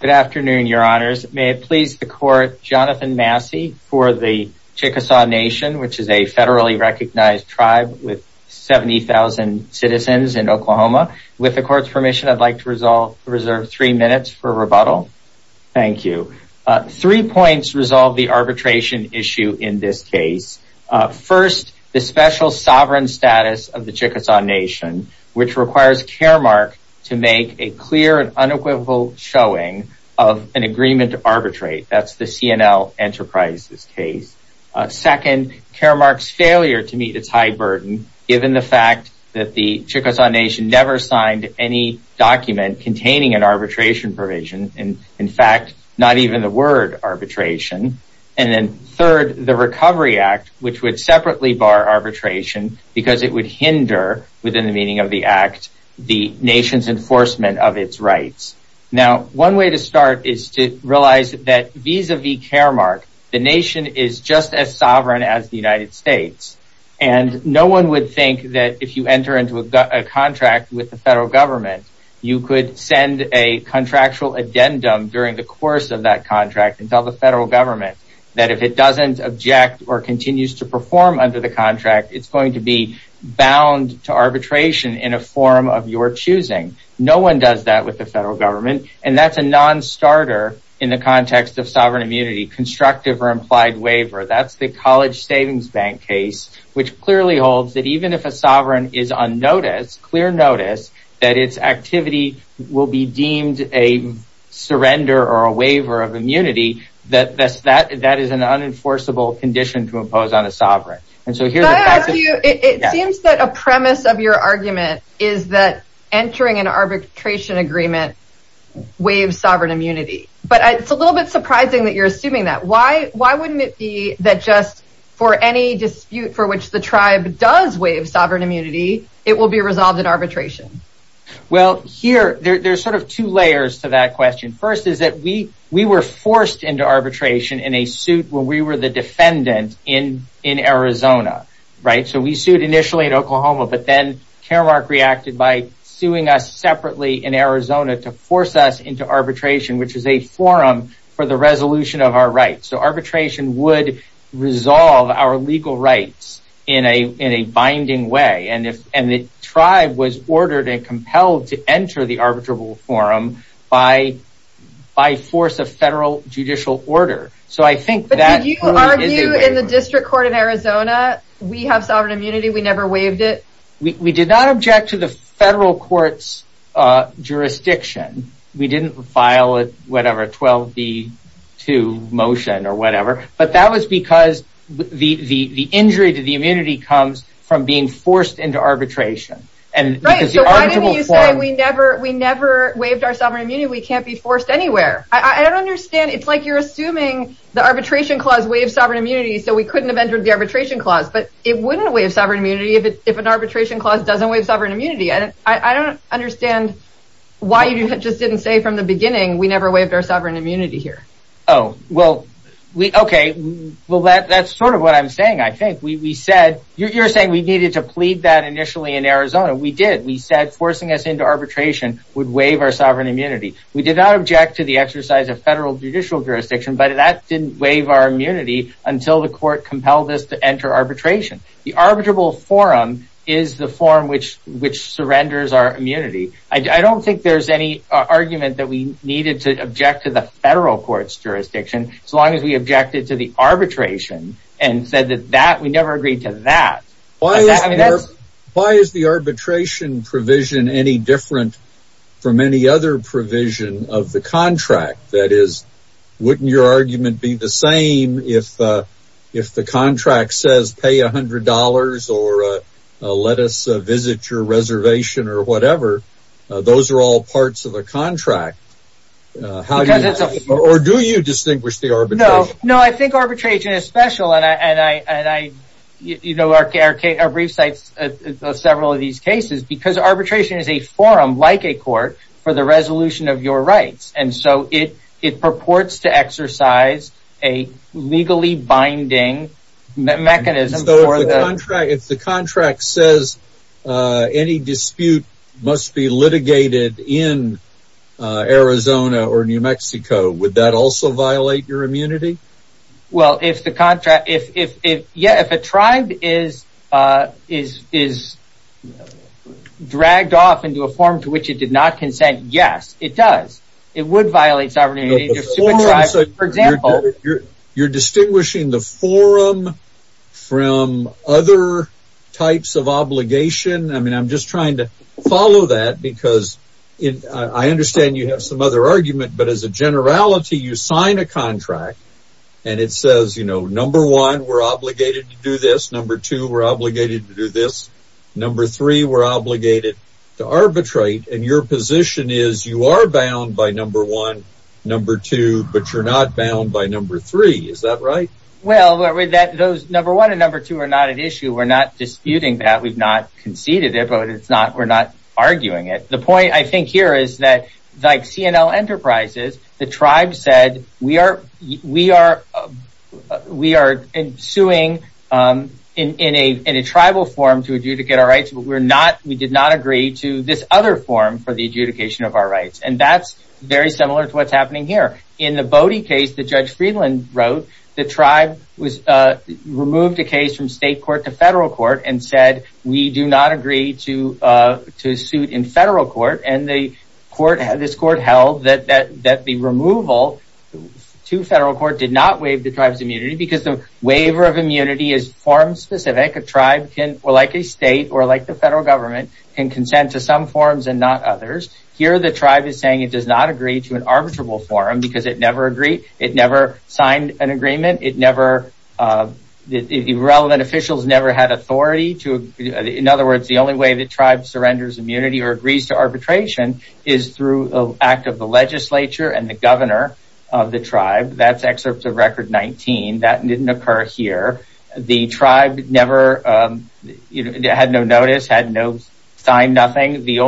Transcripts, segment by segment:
Good afternoon, your honors. May it please the court, Jonathan Massey for the Chickasaw Nation, which is a federally recognized tribe with 70,000 citizens in Oklahoma. With the court's permission, I'd like to reserve three minutes for rebuttal. Three points resolve the arbitration issue in this case. First, the special sovereign status of the Chickasaw Nation, which requires Caremark to make a clear and unequivocal showing of an agreement to arbitrate. That's the C&L Enterprises case. Second, Caremark's failure to meet its high burden given the fact that the Chickasaw Nation never signed any document containing an arbitration provision. In fact, not even the word arbitration. And then third, the Recovery Act, which would separately bar arbitration because it would hinder, within the meaning of the Act, the Nation's enforcement of its rights. Now, one way to start is to realize that vis-a-vis Caremark, the Nation is just as sovereign as the United States. And no one would think that if you enter into a contract with the federal government, you could send a contractual addendum during the course of that contract and tell the federal government that if it doesn't object or continues to perform under the contract, it's going to be bound to arbitration in a form of your choosing. No one does that with the federal government. And that's a non-starter in the context of sovereign immunity, constructive or implied waiver. That's the College Savings Bank case, which clearly holds that even if a sovereign is on notice, clear notice, that its activity will be deemed a surrender or a waiver of immunity, that is an unenforceable condition to impose on a sovereign. It seems that a premise of your argument is that entering an arbitration agreement waives sovereign immunity. But it's a little bit surprising that you're assuming that. Why wouldn't it be that just for any dispute for which the tribe does waive sovereign immunity, it will be resolved in arbitration? There are two layers to that question. First, we were forced into arbitration in a suit when we were the defendant in Arizona. We sued initially in Oklahoma, but then Karamark reacted by suing us separately in Arizona to force us into arbitration, which is a forum for the resolution of our rights. So arbitration would resolve our legal rights in a binding way. And the tribe was ordered and compelled to enter the arbitrable forum by force of federal judicial order. But did you argue in the district court in Arizona, we have sovereign immunity, we never waived it? We did not object to the federal court's jurisdiction. We didn't file a 12B2 motion or whatever. But that was because the injury to the immunity comes from being forced into arbitration. Right, so why didn't you say we never waived our sovereign immunity, we can't be forced anywhere? I don't understand. It's like you're assuming the arbitration clause waives sovereign immunity, so we couldn't have entered the arbitration clause. But it wouldn't waive sovereign immunity if an arbitration clause doesn't waive sovereign immunity. I don't understand why you just didn't say from the beginning we never waived our sovereign immunity here. Well, that's sort of what I'm saying, I think. You're saying we needed to plead that initially in Arizona. We did. We said forcing us into arbitration would waive our sovereign immunity. We did not object to the exercise of federal judicial jurisdiction, but that didn't waive our immunity until the court compelled us to enter arbitration. The arbitrable forum is the forum which surrenders our immunity. I don't think there's any argument that we needed to object to the federal court's jurisdiction, so long as we objected to the arbitration and said that we never agreed to that. Why is the arbitration provision any different from any other provision of the contract? That is, wouldn't your argument be the same if the contract says pay $100 or let us visit your reservation or whatever? Those are all parts of a contract. Or do you distinguish the arbitration? I think arbitration is special. Arbitration is a forum like a court for the resolution of your rights, so it purports to exercise a legally binding mechanism. If the contract says any dispute must be litigated in Arizona or New Mexico, would that also violate your immunity? If a tribe is dragged off into a forum to which it did not consent, yes, it does. It would violate sovereignty. You're distinguishing the forum from other types of obligation? I'm just trying to follow that because I understand you have some other argument, but as a generality, you sign a contract and it says, number one, we're obligated to do this, number two, we're obligated to do this, number three, we're obligated to arbitrate, and your position is you are bound by number one, number two, but you're not bound by number three. Is that right? That's very similar to what's happening here. In the case that Judge Friedland wrote, the tribe removed a case from state court to federal court and said we do not agree to suit in federal court, and this court held that the removal to federal court did not waive the tribe's immunity because the waiver of immunity is form specific. Like a state or like the federal government can consent to some forums and not others. Here the tribe is saying it does not agree to an arbitrable forum because it never signed an agreement. The relevant officials never had authority. In other words, the only way the tribe surrenders immunity or agrees to arbitration is through an act of the legislature and the governor of the tribe. That's excerpt of record 19. That didn't occur here. The tribe had no notice, had no sign, nothing. There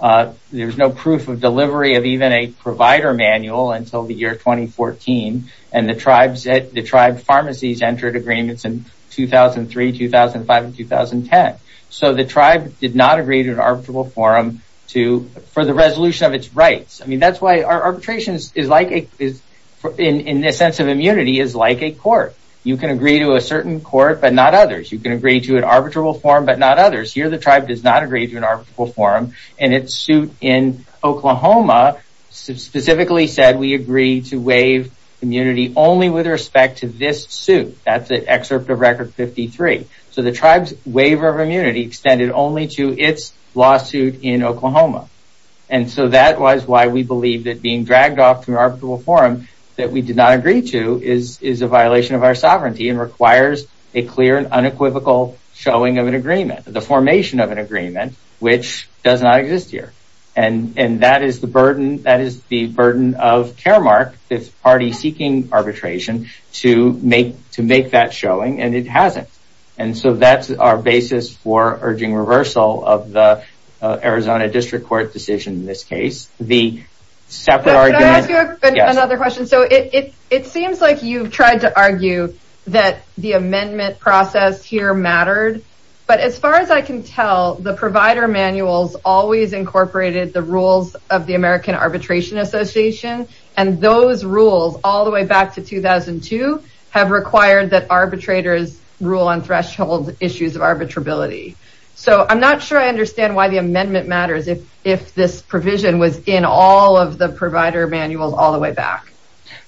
was no proof of delivery of even a provider manual until the year 2014, and the tribe pharmacies entered agreements in 2003, 2005, and 2010. The tribe did not agree to an arbitrable forum for the resolution of its rights. That's why arbitration in the sense of immunity is like a court. You can agree to a certain court but not others. You can agree to an arbitrable forum but not others. Here the tribe does not agree to an arbitrable forum, and its suit in Oklahoma specifically said we agree to waive immunity only with respect to this suit. That's excerpt of record 53. The tribe's waiver of immunity extended only to its lawsuit in Oklahoma. That was why we believe that being dragged off to an arbitrable forum that we did not agree to is a violation of our sovereignty and requires a clear and unequivocal showing of an agreement, the formation of an agreement which does not exist here. And that is the burden of Caremark, this party seeking arbitration, to make that showing, and it hasn't. And so that's our basis for urging reversal of the Arizona district court decision in this case. Can I ask you another question? So it seems like you've tried to argue that the amendment process here mattered, but as far as I can tell, the provider manuals always incorporated the rules of the American Arbitration Association, and those rules all the way back to 2002 have required that arbitrators rule on threshold issues of arbitrability. So I'm not sure I understand why the amendment matters if this provision was in all of the provider manuals all the way back.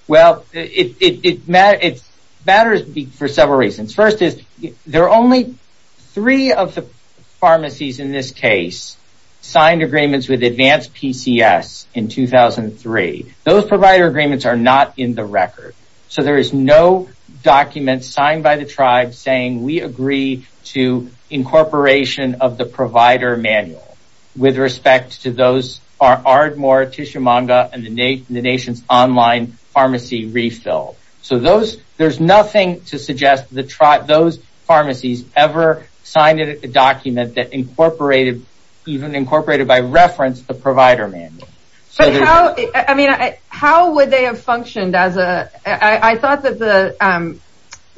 Well, it matters for several reasons. First is there are only three of the pharmacies in this case signed agreements with advanced PCS in 2003. Those provider agreements are not in the record. So there is no document signed by the tribe saying we agree to incorporation of the provider manual with respect to those Ardmore, Tishomanga, and the nation's online pharmacy refill. So there's nothing to suggest those pharmacies ever signed a document that incorporated, even incorporated by reference, the provider manual. I mean, how would they have functioned as a I thought that the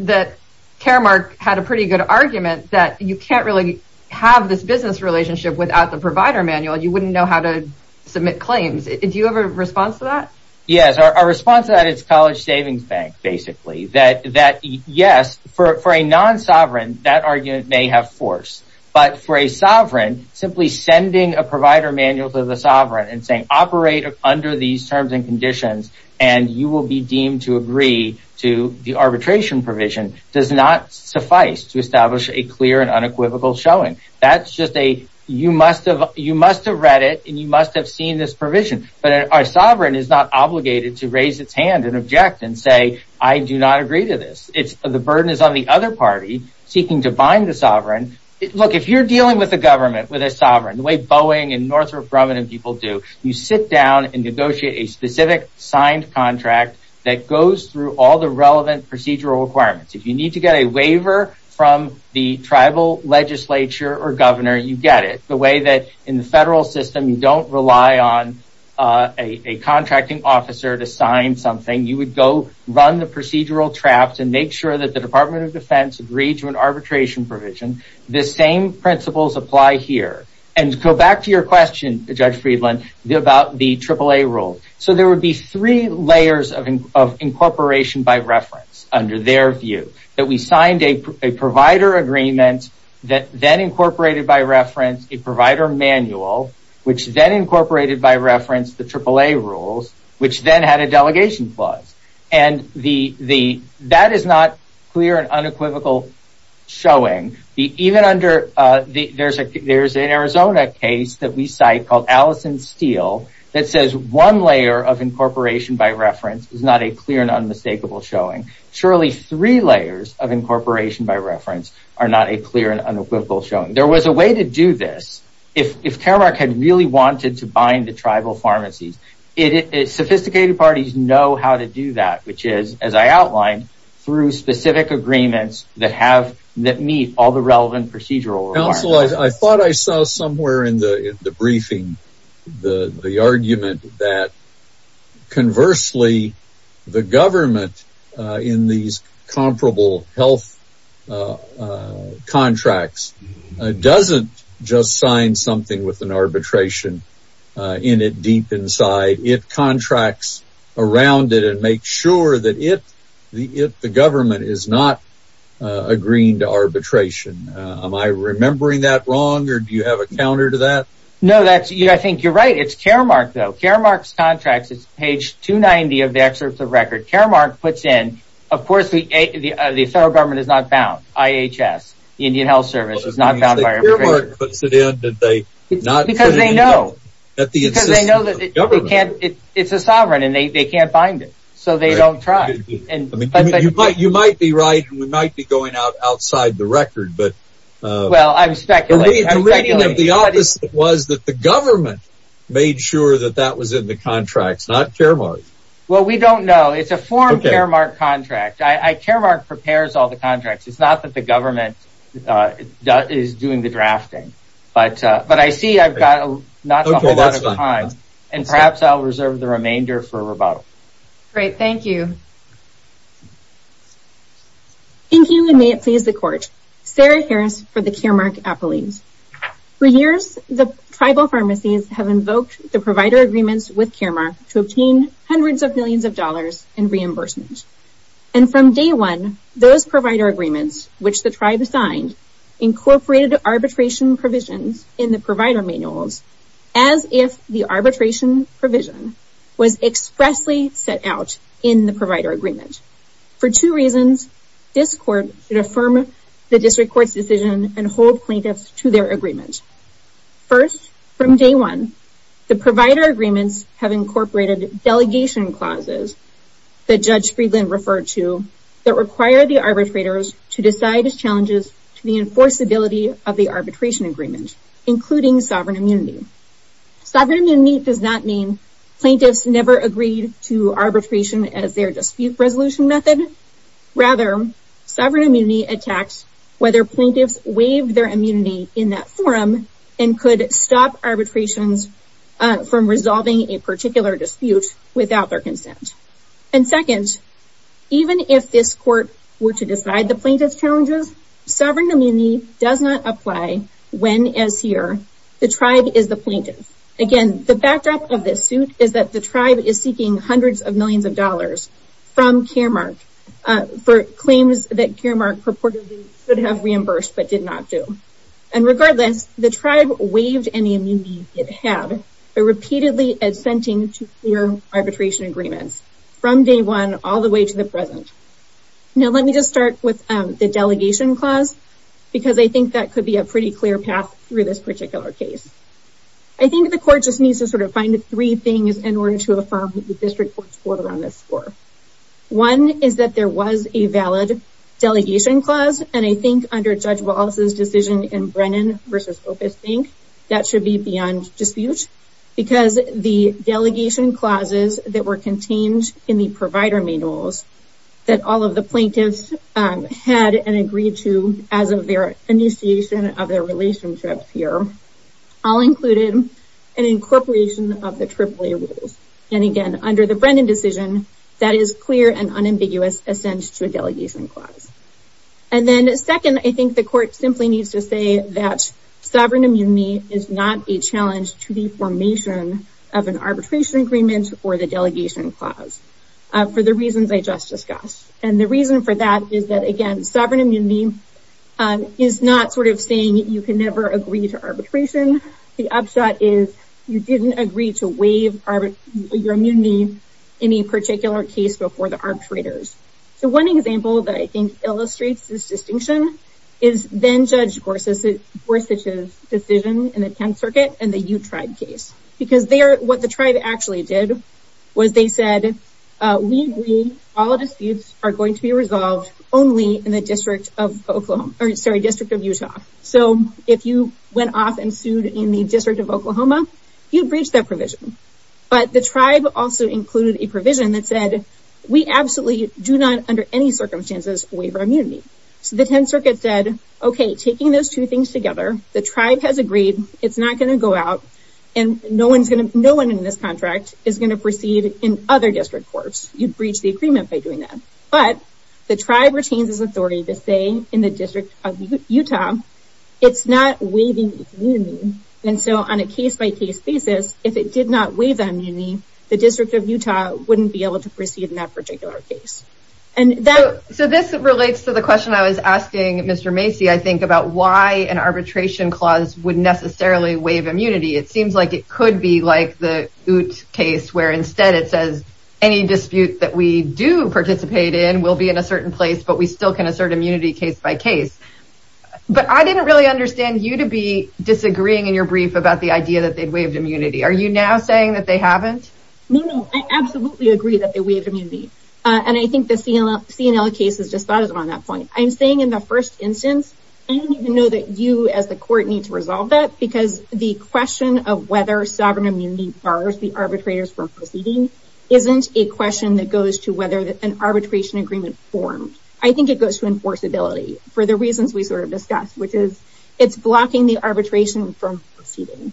that Caremark had a pretty good argument that you can't really have this business relationship without the provider manual. You wouldn't know how to submit claims. Do you have a response to that? Yes, our response to that is College Savings Bank, basically. That yes, for a non-sovereign, that argument may have force. But for a sovereign, simply sending a provider manual to the sovereign and saying operate under these terms and conditions and you will be deemed to agree to the arbitration provision does not suffice to establish a clear and unequivocal showing. That's just a you must have you must have read it and you must have seen this provision. But our sovereign is not obligated to raise its hand and object and say, I do not agree to this. It's the burden is on the other party seeking to bind the sovereign. Look, if you're dealing with the government, with a sovereign, the way Boeing and Northrop Grumman and people do, you sit down and negotiate a specific signed contract that goes through all the relevant procedural requirements. If you need to get a waiver from the tribal legislature or governor, you get it the way that in the federal system, you don't rely on a contracting officer to sign something. You would go run the procedural traps and make sure that the Department of Defense agreed to an arbitration provision. The same principles apply here. And go back to your question, Judge Friedland, about the AAA rule. So there would be three layers of incorporation by reference under their view. That we signed a provider agreement that then incorporated by reference a provider manual, which then incorporated by reference the AAA rules, which then had a delegation clause. And that is not clear and unequivocal showing. Even under there's an Arizona case that we cite called Allison Steel that says one layer of incorporation by reference is not a clear and unmistakable showing. Surely three layers of incorporation by reference are not a clear and unequivocal showing. There was a way to do this. If Caramark had really wanted to bind the tribal pharmacies, sophisticated parties know how to do that, which is, as I outlined, through specific agreements that meet all the relevant procedural requirements. I thought I saw somewhere in the briefing the argument that, conversely, the government in these comparable health contracts doesn't just sign something with an arbitration in it deep inside. It contracts around it and makes sure that the government is not agreeing to arbitration. Am I remembering that wrong or do you have a counter to that? No, I think you're right. It's Caramark though. Caramark's contract is page 290 of the excerpt of the record. Caramark puts in, of course, the federal government is not bound. IHS, the Indian Health Service, is not bound by arbitration. Caramark puts it in and they do not put it in at the insistence of the government. The reading of the office was that the government made sure that that was in the contract, not Caramark. Well, we don't know. It's a formed Caramark contract. Caramark prepares all the contracts. It's not that the government is doing the drafting, but I see I've got not a whole lot of time and perhaps I'll reserve the remainder for rebuttal. Great, thank you. Thank you and may it please the court. Sarah Harris for the Caramark Appellate. For years, the tribal pharmacies have invoked the provider agreements with Caramark to obtain hundreds of millions of dollars in reimbursement. And from day one, those provider agreements, which the tribe signed, incorporated arbitration provisions in the provider manuals as if the arbitration provision was expressly set out in the provider agreement. For two reasons, this court should affirm the district court's decision and hold plaintiffs to their agreement. First, from day one, the provider agreements have incorporated delegation clauses that Judge Friedland referred to that require the arbitrators to decide as challenges to the enforceability of the arbitration agreement, including sovereign immunity. Sovereign immunity does not mean plaintiffs never agreed to arbitration as their dispute resolution method. Rather, sovereign immunity attacks whether plaintiffs waived their immunity in that forum and could stop arbitrations from resolving a particular dispute without their consent. And second, even if this court were to decide the plaintiff's challenges, sovereign immunity does not apply when, as here, the tribe is the plaintiff. Again, the backdrop of this suit is that the tribe is seeking hundreds of millions of dollars from Caramark for claims that Caramark purportedly should have reimbursed but did not do. And regardless, the tribe waived any immunity it had by repeatedly assenting to clear arbitration agreements from day one all the way to the present. Now let me just start with the delegation clause because I think that could be a pretty clear path through this particular case. I think the court just needs to sort of find the three things in order to affirm the district court's score on this score. One is that there was a valid delegation clause, and I think under Judge Wallace's decision in Brennan v. Opus Inc., that should be beyond dispute because the delegation clauses that were contained in the provider manuals that all of the plaintiffs had and agreed to as of their initiation of their relationships here all included an incorporation of the AAA rules. And again, under the Brennan decision, that is clear and unambiguous assent to a delegation clause. And then second, I think the court simply needs to say that sovereign immunity is not a challenge to the formation of an arbitration agreement or the delegation clause for the reasons I just discussed. And the reason for that is that, again, sovereign immunity is not sort of saying you can never agree to arbitration. The upshot is you didn't agree to waive your immunity in any particular case before the arbitrators. So one example that I think illustrates this distinction is then Judge Gorsuch's decision in the 10th Circuit in the U-Tribe case. Because what the tribe actually did was they said, we agree all disputes are going to be resolved only in the District of Utah. So if you went off and sued in the District of Oklahoma, you breached that provision. But the tribe also included a provision that said, we absolutely do not, under any circumstances, waive our immunity. So the 10th Circuit said, okay, taking those two things together, the tribe has agreed it's not going to go out, and no one in this contract is going to proceed in other district courts. You breached the agreement by doing that. But the tribe retains its authority to say in the District of Utah, it's not waiving its immunity. And so on a case-by-case basis, if it did not waive immunity, the District of Utah wouldn't be able to proceed in that particular case. So this relates to the question I was asking Mr. Macy, I think, about why an arbitration clause would necessarily waive immunity. It seems like it could be like the Ute case, where instead it says any dispute that we do participate in will be in a certain place, but we still can assert immunity case-by-case. But I didn't really understand you to be disagreeing in your brief about the idea that they'd waived immunity. Are you now saying that they haven't? No, no, I absolutely agree that they waived immunity. And I think the CNL case has just thought of it on that point. I'm saying in the first instance, I don't even know that you as the court need to resolve that, because the question of whether sovereign immunity bars the arbitrators from proceeding isn't a question that goes to whether an arbitration agreement formed. I think it goes to enforceability for the reasons we sort of discussed, which is it's blocking the arbitration from proceeding.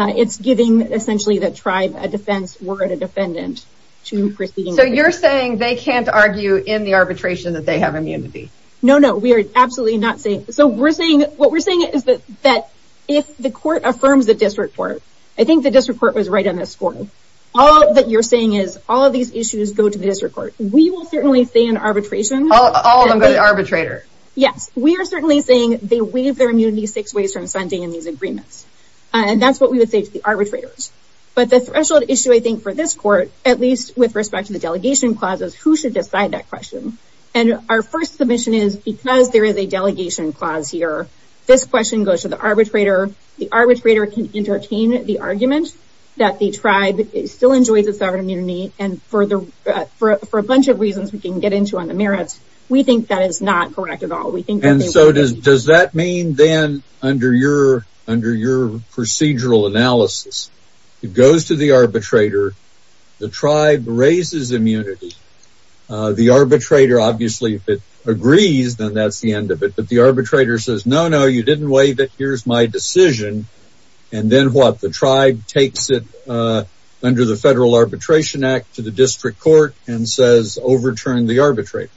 It's giving essentially the tribe a defense were it a defendant to proceed. So you're saying they can't argue in the arbitration that they have immunity? No, no, we are absolutely not saying. So what we're saying is that if the court affirms the district court, I think the district court was right on this score, all that you're saying is all of these issues go to the district court. We will certainly say in arbitration. All of them go to the arbitrator. Yes, we are certainly saying they waive their immunity six ways from sending in these agreements. And that's what we would say to the arbitrators. But the threshold issue, I think, for this court, at least with respect to the delegation clauses, who should decide that question? And our first submission is because there is a delegation clause here, this question goes to the arbitrator. The arbitrator can entertain the argument that the tribe still enjoys its sovereign immunity and for a bunch of reasons we can get into on the merits, we think that is not correct at all. And so does that mean then under your procedural analysis, it goes to the arbitrator, the tribe raises immunity, the arbitrator obviously agrees, then that's the end of it. But the arbitrator says, no, no, you didn't waive it, here's my decision. And then what, the tribe takes it under the Federal Arbitration Act to the district court and says overturn the arbitrator.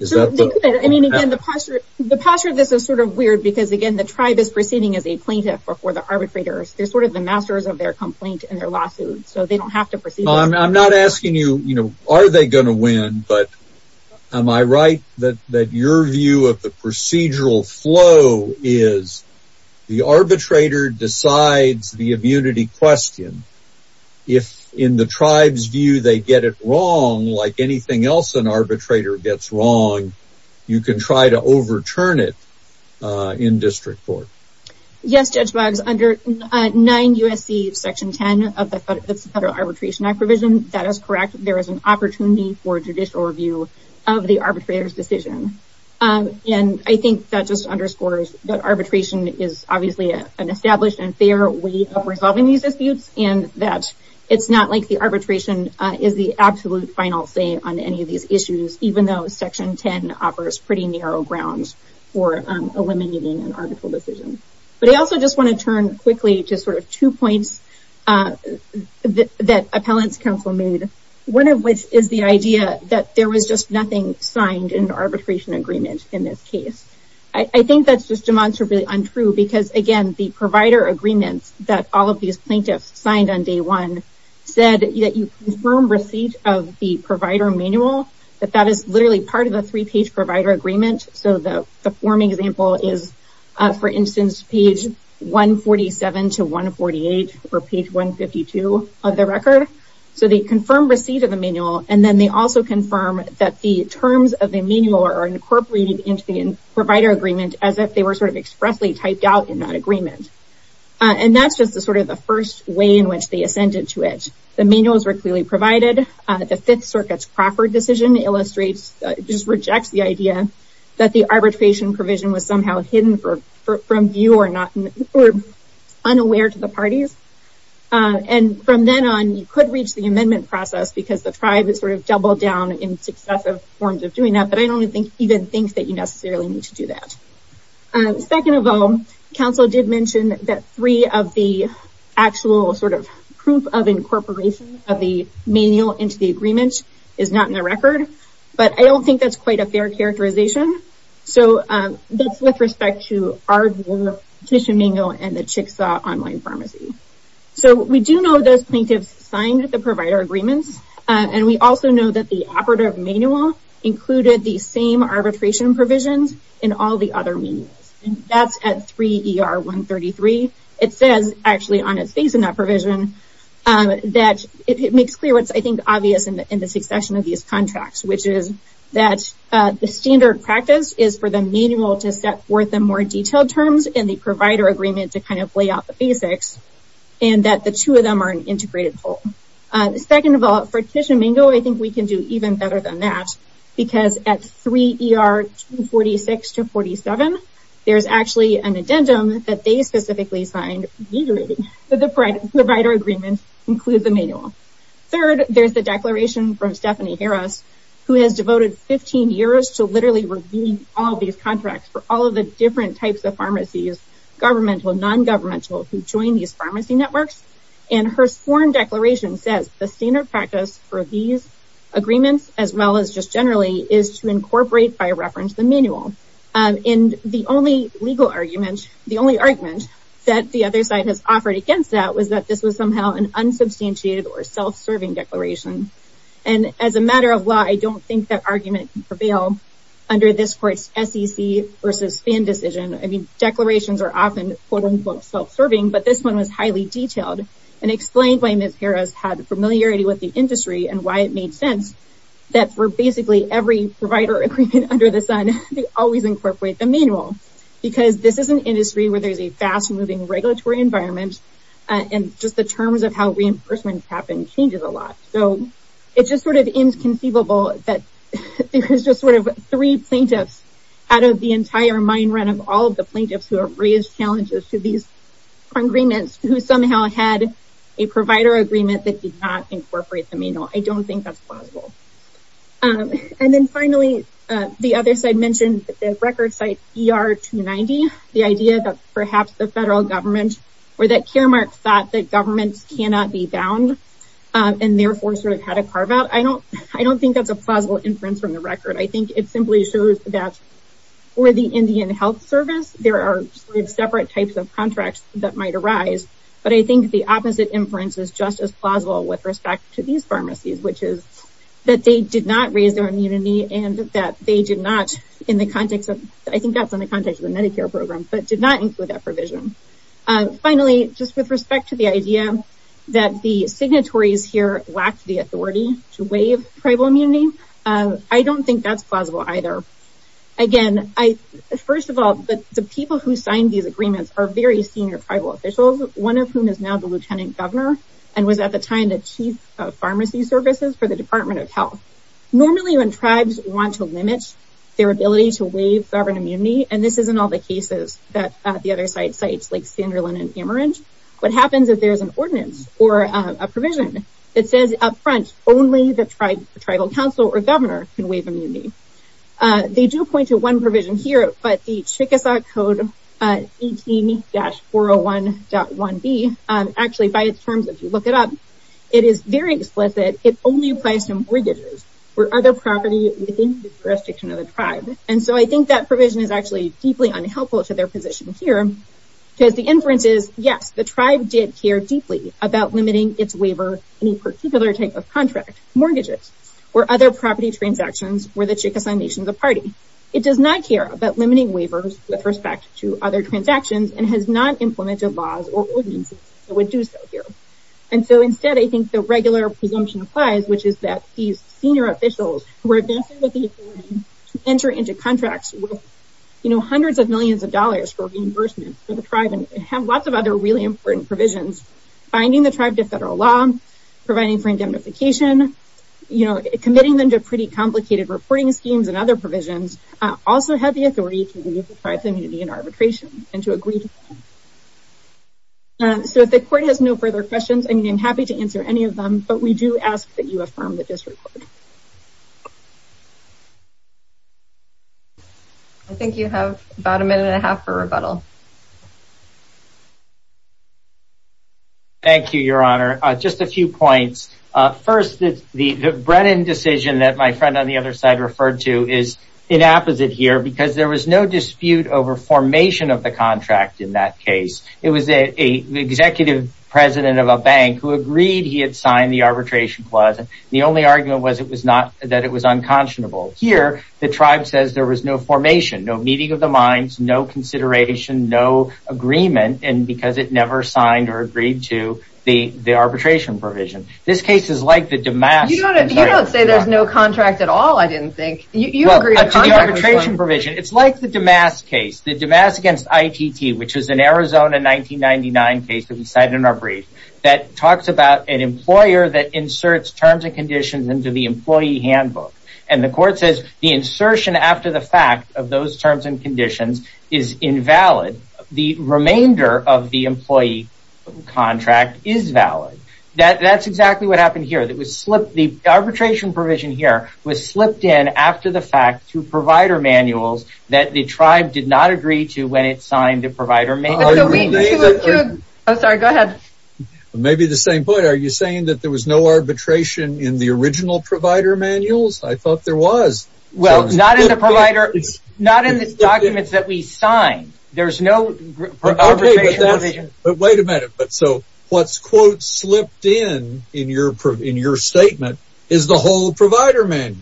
The posture of this is sort of weird because, again, the tribe is proceeding as a plaintiff before the arbitrators. They're sort of the masters of their complaint and their lawsuit, so they don't have to proceed. I'm not asking you, are they going to win? But am I right that your view of the procedural flow is the arbitrator decides the immunity question. If in the tribe's view they get it wrong like anything else an arbitrator gets wrong, you can try to overturn it in district court. Yes, Judge Boggs, under 9 U.S.C. section 10 of the Federal Arbitration Act provision, that is correct. There is an opportunity for judicial review of the arbitrator's decision. And I think that just underscores that arbitration is obviously an established and fair way of resolving these disputes. And that it's not like the arbitration is the absolute final say on any of these issues, even though section 10 offers pretty narrow grounds for eliminating an arbitral decision. But I also just want to turn quickly to sort of two points that appellant's counsel made. One of which is the idea that there was just nothing signed in the arbitration agreement in this case. I think that's just demonstrably untrue because, again, the provider agreements that all of these plaintiffs signed on day one said that you confirm receipt of the provider manual, that that is literally part of the three-page provider agreement. So the form example is, for instance, page 147 to 148, or page 152 of the record. So they confirm receipt of the manual, and then they also confirm that the terms of the manual are incorporated into the provider agreement as if they were sort of expressly typed out in that agreement. And that's just sort of the first way in which they assented to it. The manuals were clearly provided. The Fifth Circuit's Crawford decision illustrates, just rejects the idea, that the arbitration provision was somehow hidden from view or unaware to the parties. And from then on, you could reach the amendment process because the tribe has sort of doubled down in successive forms of doing that. But I don't even think that you necessarily need to do that. Second of all, counsel did mention that three of the actual sort of proof of incorporation of the manual into the agreement is not in the record. But I don't think that's quite a fair characterization. So that's with respect to our petition manual and the Chickasaw Online Pharmacy. So we do know those plaintiffs signed the provider agreements, and we also know that the operative manual included the same arbitration provisions in all the other manuals. And that's at 3 ER 133. It says actually on its face in that provision that it makes clear what's I think obvious in the succession of these contracts, which is that the standard practice is for the manual to set forth the more detailed terms and the provider agreement to kind of lay out the basics, and that the two of them are an integrated whole. Second of all, for Tishomingo, I think we can do even better than that. Because at 3 ER 246 to 47, there's actually an addendum that they specifically signed, that the provider agreement includes the manual. Third, there's the declaration from Stephanie Harris, who has devoted 15 years to literally reviewing all these contracts for all of the different types of pharmacies, governmental, non-governmental, who join these pharmacy networks. And her sworn declaration says the standard practice for these agreements, as well as just generally, is to incorporate by reference the manual. And the only legal argument, the only argument that the other side has offered against that, was that this was somehow an unsubstantiated or self-serving declaration. And as a matter of law, I don't think that argument can prevail under this court's SEC versus FAN decision. I mean, declarations are often quote-unquote self-serving, but this one was highly detailed, and explained why Ms. Harris had familiarity with the industry, and why it made sense that for basically every provider agreement under the sun, they always incorporate the manual. Because this is an industry where there's a fast-moving regulatory environment, and just the terms of how reimbursements happen changes a lot. So it's just sort of inconceivable that there's just sort of three plaintiffs out of the entire mind run of all of the plaintiffs who have raised challenges to these agreements, who somehow had a provider agreement that did not incorporate the manual. I don't think that's plausible. And then finally, the other side mentioned the record site ER-290, the idea that perhaps the federal government or that Caremark thought that governments cannot be bound, and therefore sort of had a carve-out. I don't think that's a plausible inference from the record. I think it simply shows that for the Indian Health Service, there are sort of separate types of contracts that might arise. But I think the opposite inference is just as plausible with respect to these pharmacies, which is that they did not raise their immunity, and that they did not in the context of, I think that's in the context of the Medicare program, but did not include that provision. Finally, just with respect to the idea that the signatories here lacked the authority to waive tribal immunity, I don't think that's plausible either. Again, first of all, the people who signed these agreements are very senior tribal officials, one of whom is now the lieutenant governor and was at the time the chief of pharmacy services for the Department of Health. Normally, when tribes want to limit their ability to waive sovereign immunity, and this is in all the cases that the other sites, like Sanderlin and Amherst, what happens is there's an ordinance or a provision that says up front, only the tribal council or governor can waive immunity. They do point to one provision here, but the Chickasaw Code 18-401.1b, actually by its terms, if you look it up, it is very explicit. It only applies to mortgages or other property within the jurisdiction of the tribe. And so I think that provision is actually deeply unhelpful to their position here, because the inference is, yes, the tribe did care deeply about limiting its waiver in a particular type of contract, mortgages, or other property transactions where the Chickasaw Nation is a party. It does not care about limiting waivers with respect to other transactions and has not implemented laws or ordinances that would do so here. And so instead, I think the regular presumption applies, which is that these senior officials who are advancing with the agreement enter into contracts with hundreds of millions of dollars for reimbursement for the tribe and have lots of other really important provisions, binding the tribe to federal law, providing for indemnification, committing them to pretty complicated reporting schemes and other provisions, also have the authority to waive the tribe's immunity in arbitration and to agree to that. So if the court has no further questions, I'm happy to answer any of them, but we do ask that you affirm the disreport. I think you have about a minute and a half for rebuttal. Thank you, Your Honor. Just a few points. First, the Brennan decision that my friend on the other side referred to is inapposite here because there was no dispute over formation of the contract in that case. It was an executive president of a bank who agreed he had signed the arbitration clause, and the only argument was that it was unconscionable. Here, the tribe says there was no formation, no meeting of the minds, no consideration, no agreement, because it never signed or agreed to the arbitration provision. This case is like the Damascus case. You don't say there's no contract at all, I didn't think. To the arbitration provision, it's like the Damascus case. The Damascus against ITT, which is an Arizona 1999 case that we cited in our brief, that talks about an employer that inserts terms and conditions into the employee handbook, and the court says the insertion after the fact of those terms and conditions is invalid. The remainder of the employee contract is valid. That's exactly what happened here. The arbitration provision here was slipped in after the fact through provider manuals that the tribe did not agree to when it signed the provider manual. Maybe the same point. Are you saying that there was no arbitration in the original provider manuals? I thought there was. Not in the documents that we signed. There's no arbitration provision. Wait a minute. What's quote slipped in in your statement is the whole provider manual.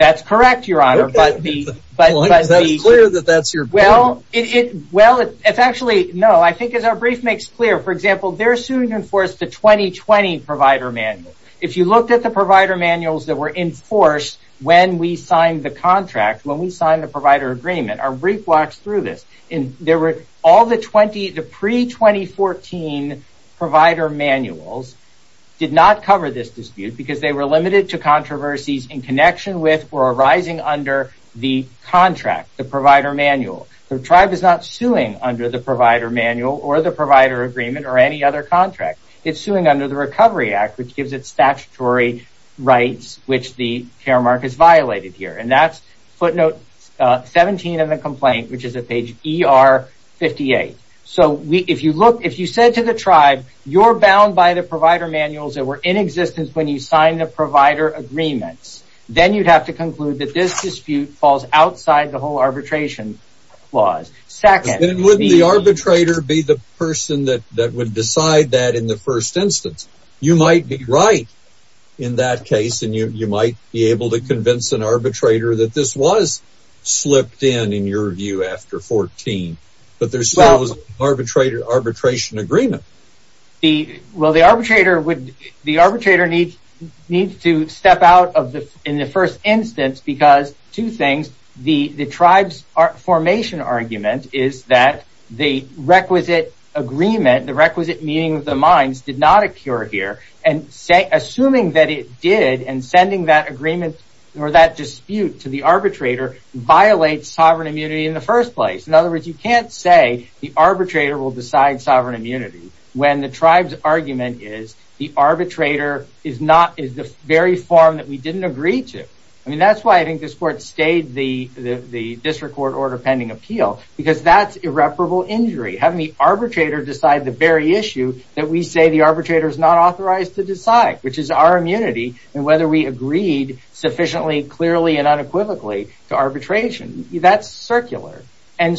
That's correct, Your Honor. Is that clear that that's your point? Well, it's actually no. I think as our brief makes clear, for example, they're soon to enforce the 2020 provider manual. If you looked at the provider manuals that were enforced when we signed the contract, when we signed the provider agreement, our brief walks through this. All the pre-2014 provider manuals did not cover this dispute because they were limited to controversies in connection with or arising under the contract, the provider manual. The tribe is not suing under the provider manual or the provider agreement or any other contract. It's suing under the Recovery Act, which gives it statutory rights, which the care mark is violated here. That's footnote 17 of the complaint, which is at page ER58. If you said to the tribe, you're bound by the provider manuals that were in existence when you signed the provider agreements, then you'd have to conclude that this dispute falls outside the whole arbitration clause. Then wouldn't the arbitrator be the person that would decide that in the first instance? You might be right in that case, and you might be able to convince an arbitrator that this was slipped in, in your view, after 14, but there still was an arbitration agreement. Well, the arbitrator needs to step out in the first instance because, two things, the tribe's formation argument is that the requisite agreement, the requisite meeting of the minds, did not occur here. Assuming that it did and sending that agreement or that dispute to the arbitrator violates sovereign immunity in the first place. In other words, you can't say the arbitrator will decide sovereign immunity when the tribe's argument is the arbitrator is the very form that we didn't agree to. That's why I think this court stayed the district court order pending appeal because that's irreparable injury, having the arbitrator decide the very issue that we say the arbitrator is not authorized to decide, which is our immunity and whether we agreed sufficiently, clearly, and unequivocally to arbitration. That's circular. But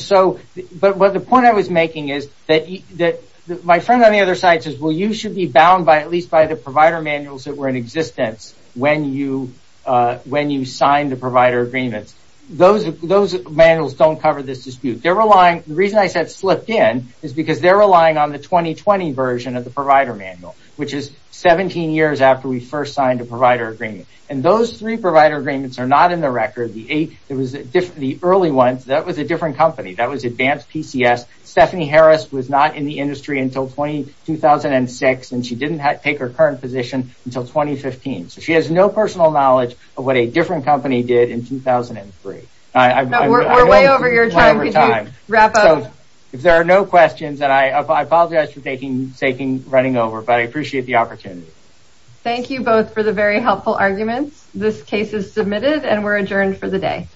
the point I was making is that my friend on the other side says you should be bound at least by the provider manuals that were in existence when you signed the provider agreements. Those manuals don't cover this dispute. The reason I said slipped in is because they are relying on the 2020 version of the provider manual, which is 17 years after we first signed a provider agreement. Those three provider agreements are not in the record. The early ones, that was a different company. That was advanced PCS. Stephanie Harris was not in the industry until 2006, and she didn't take her current position until 2015. She has no personal knowledge of what a different company did in 2003. We're way over your time. Could you wrap up? If there are no questions, I apologize for running over, but I appreciate the opportunity. Thank you both for the very helpful arguments. This case is submitted, and we're adjourned for the day.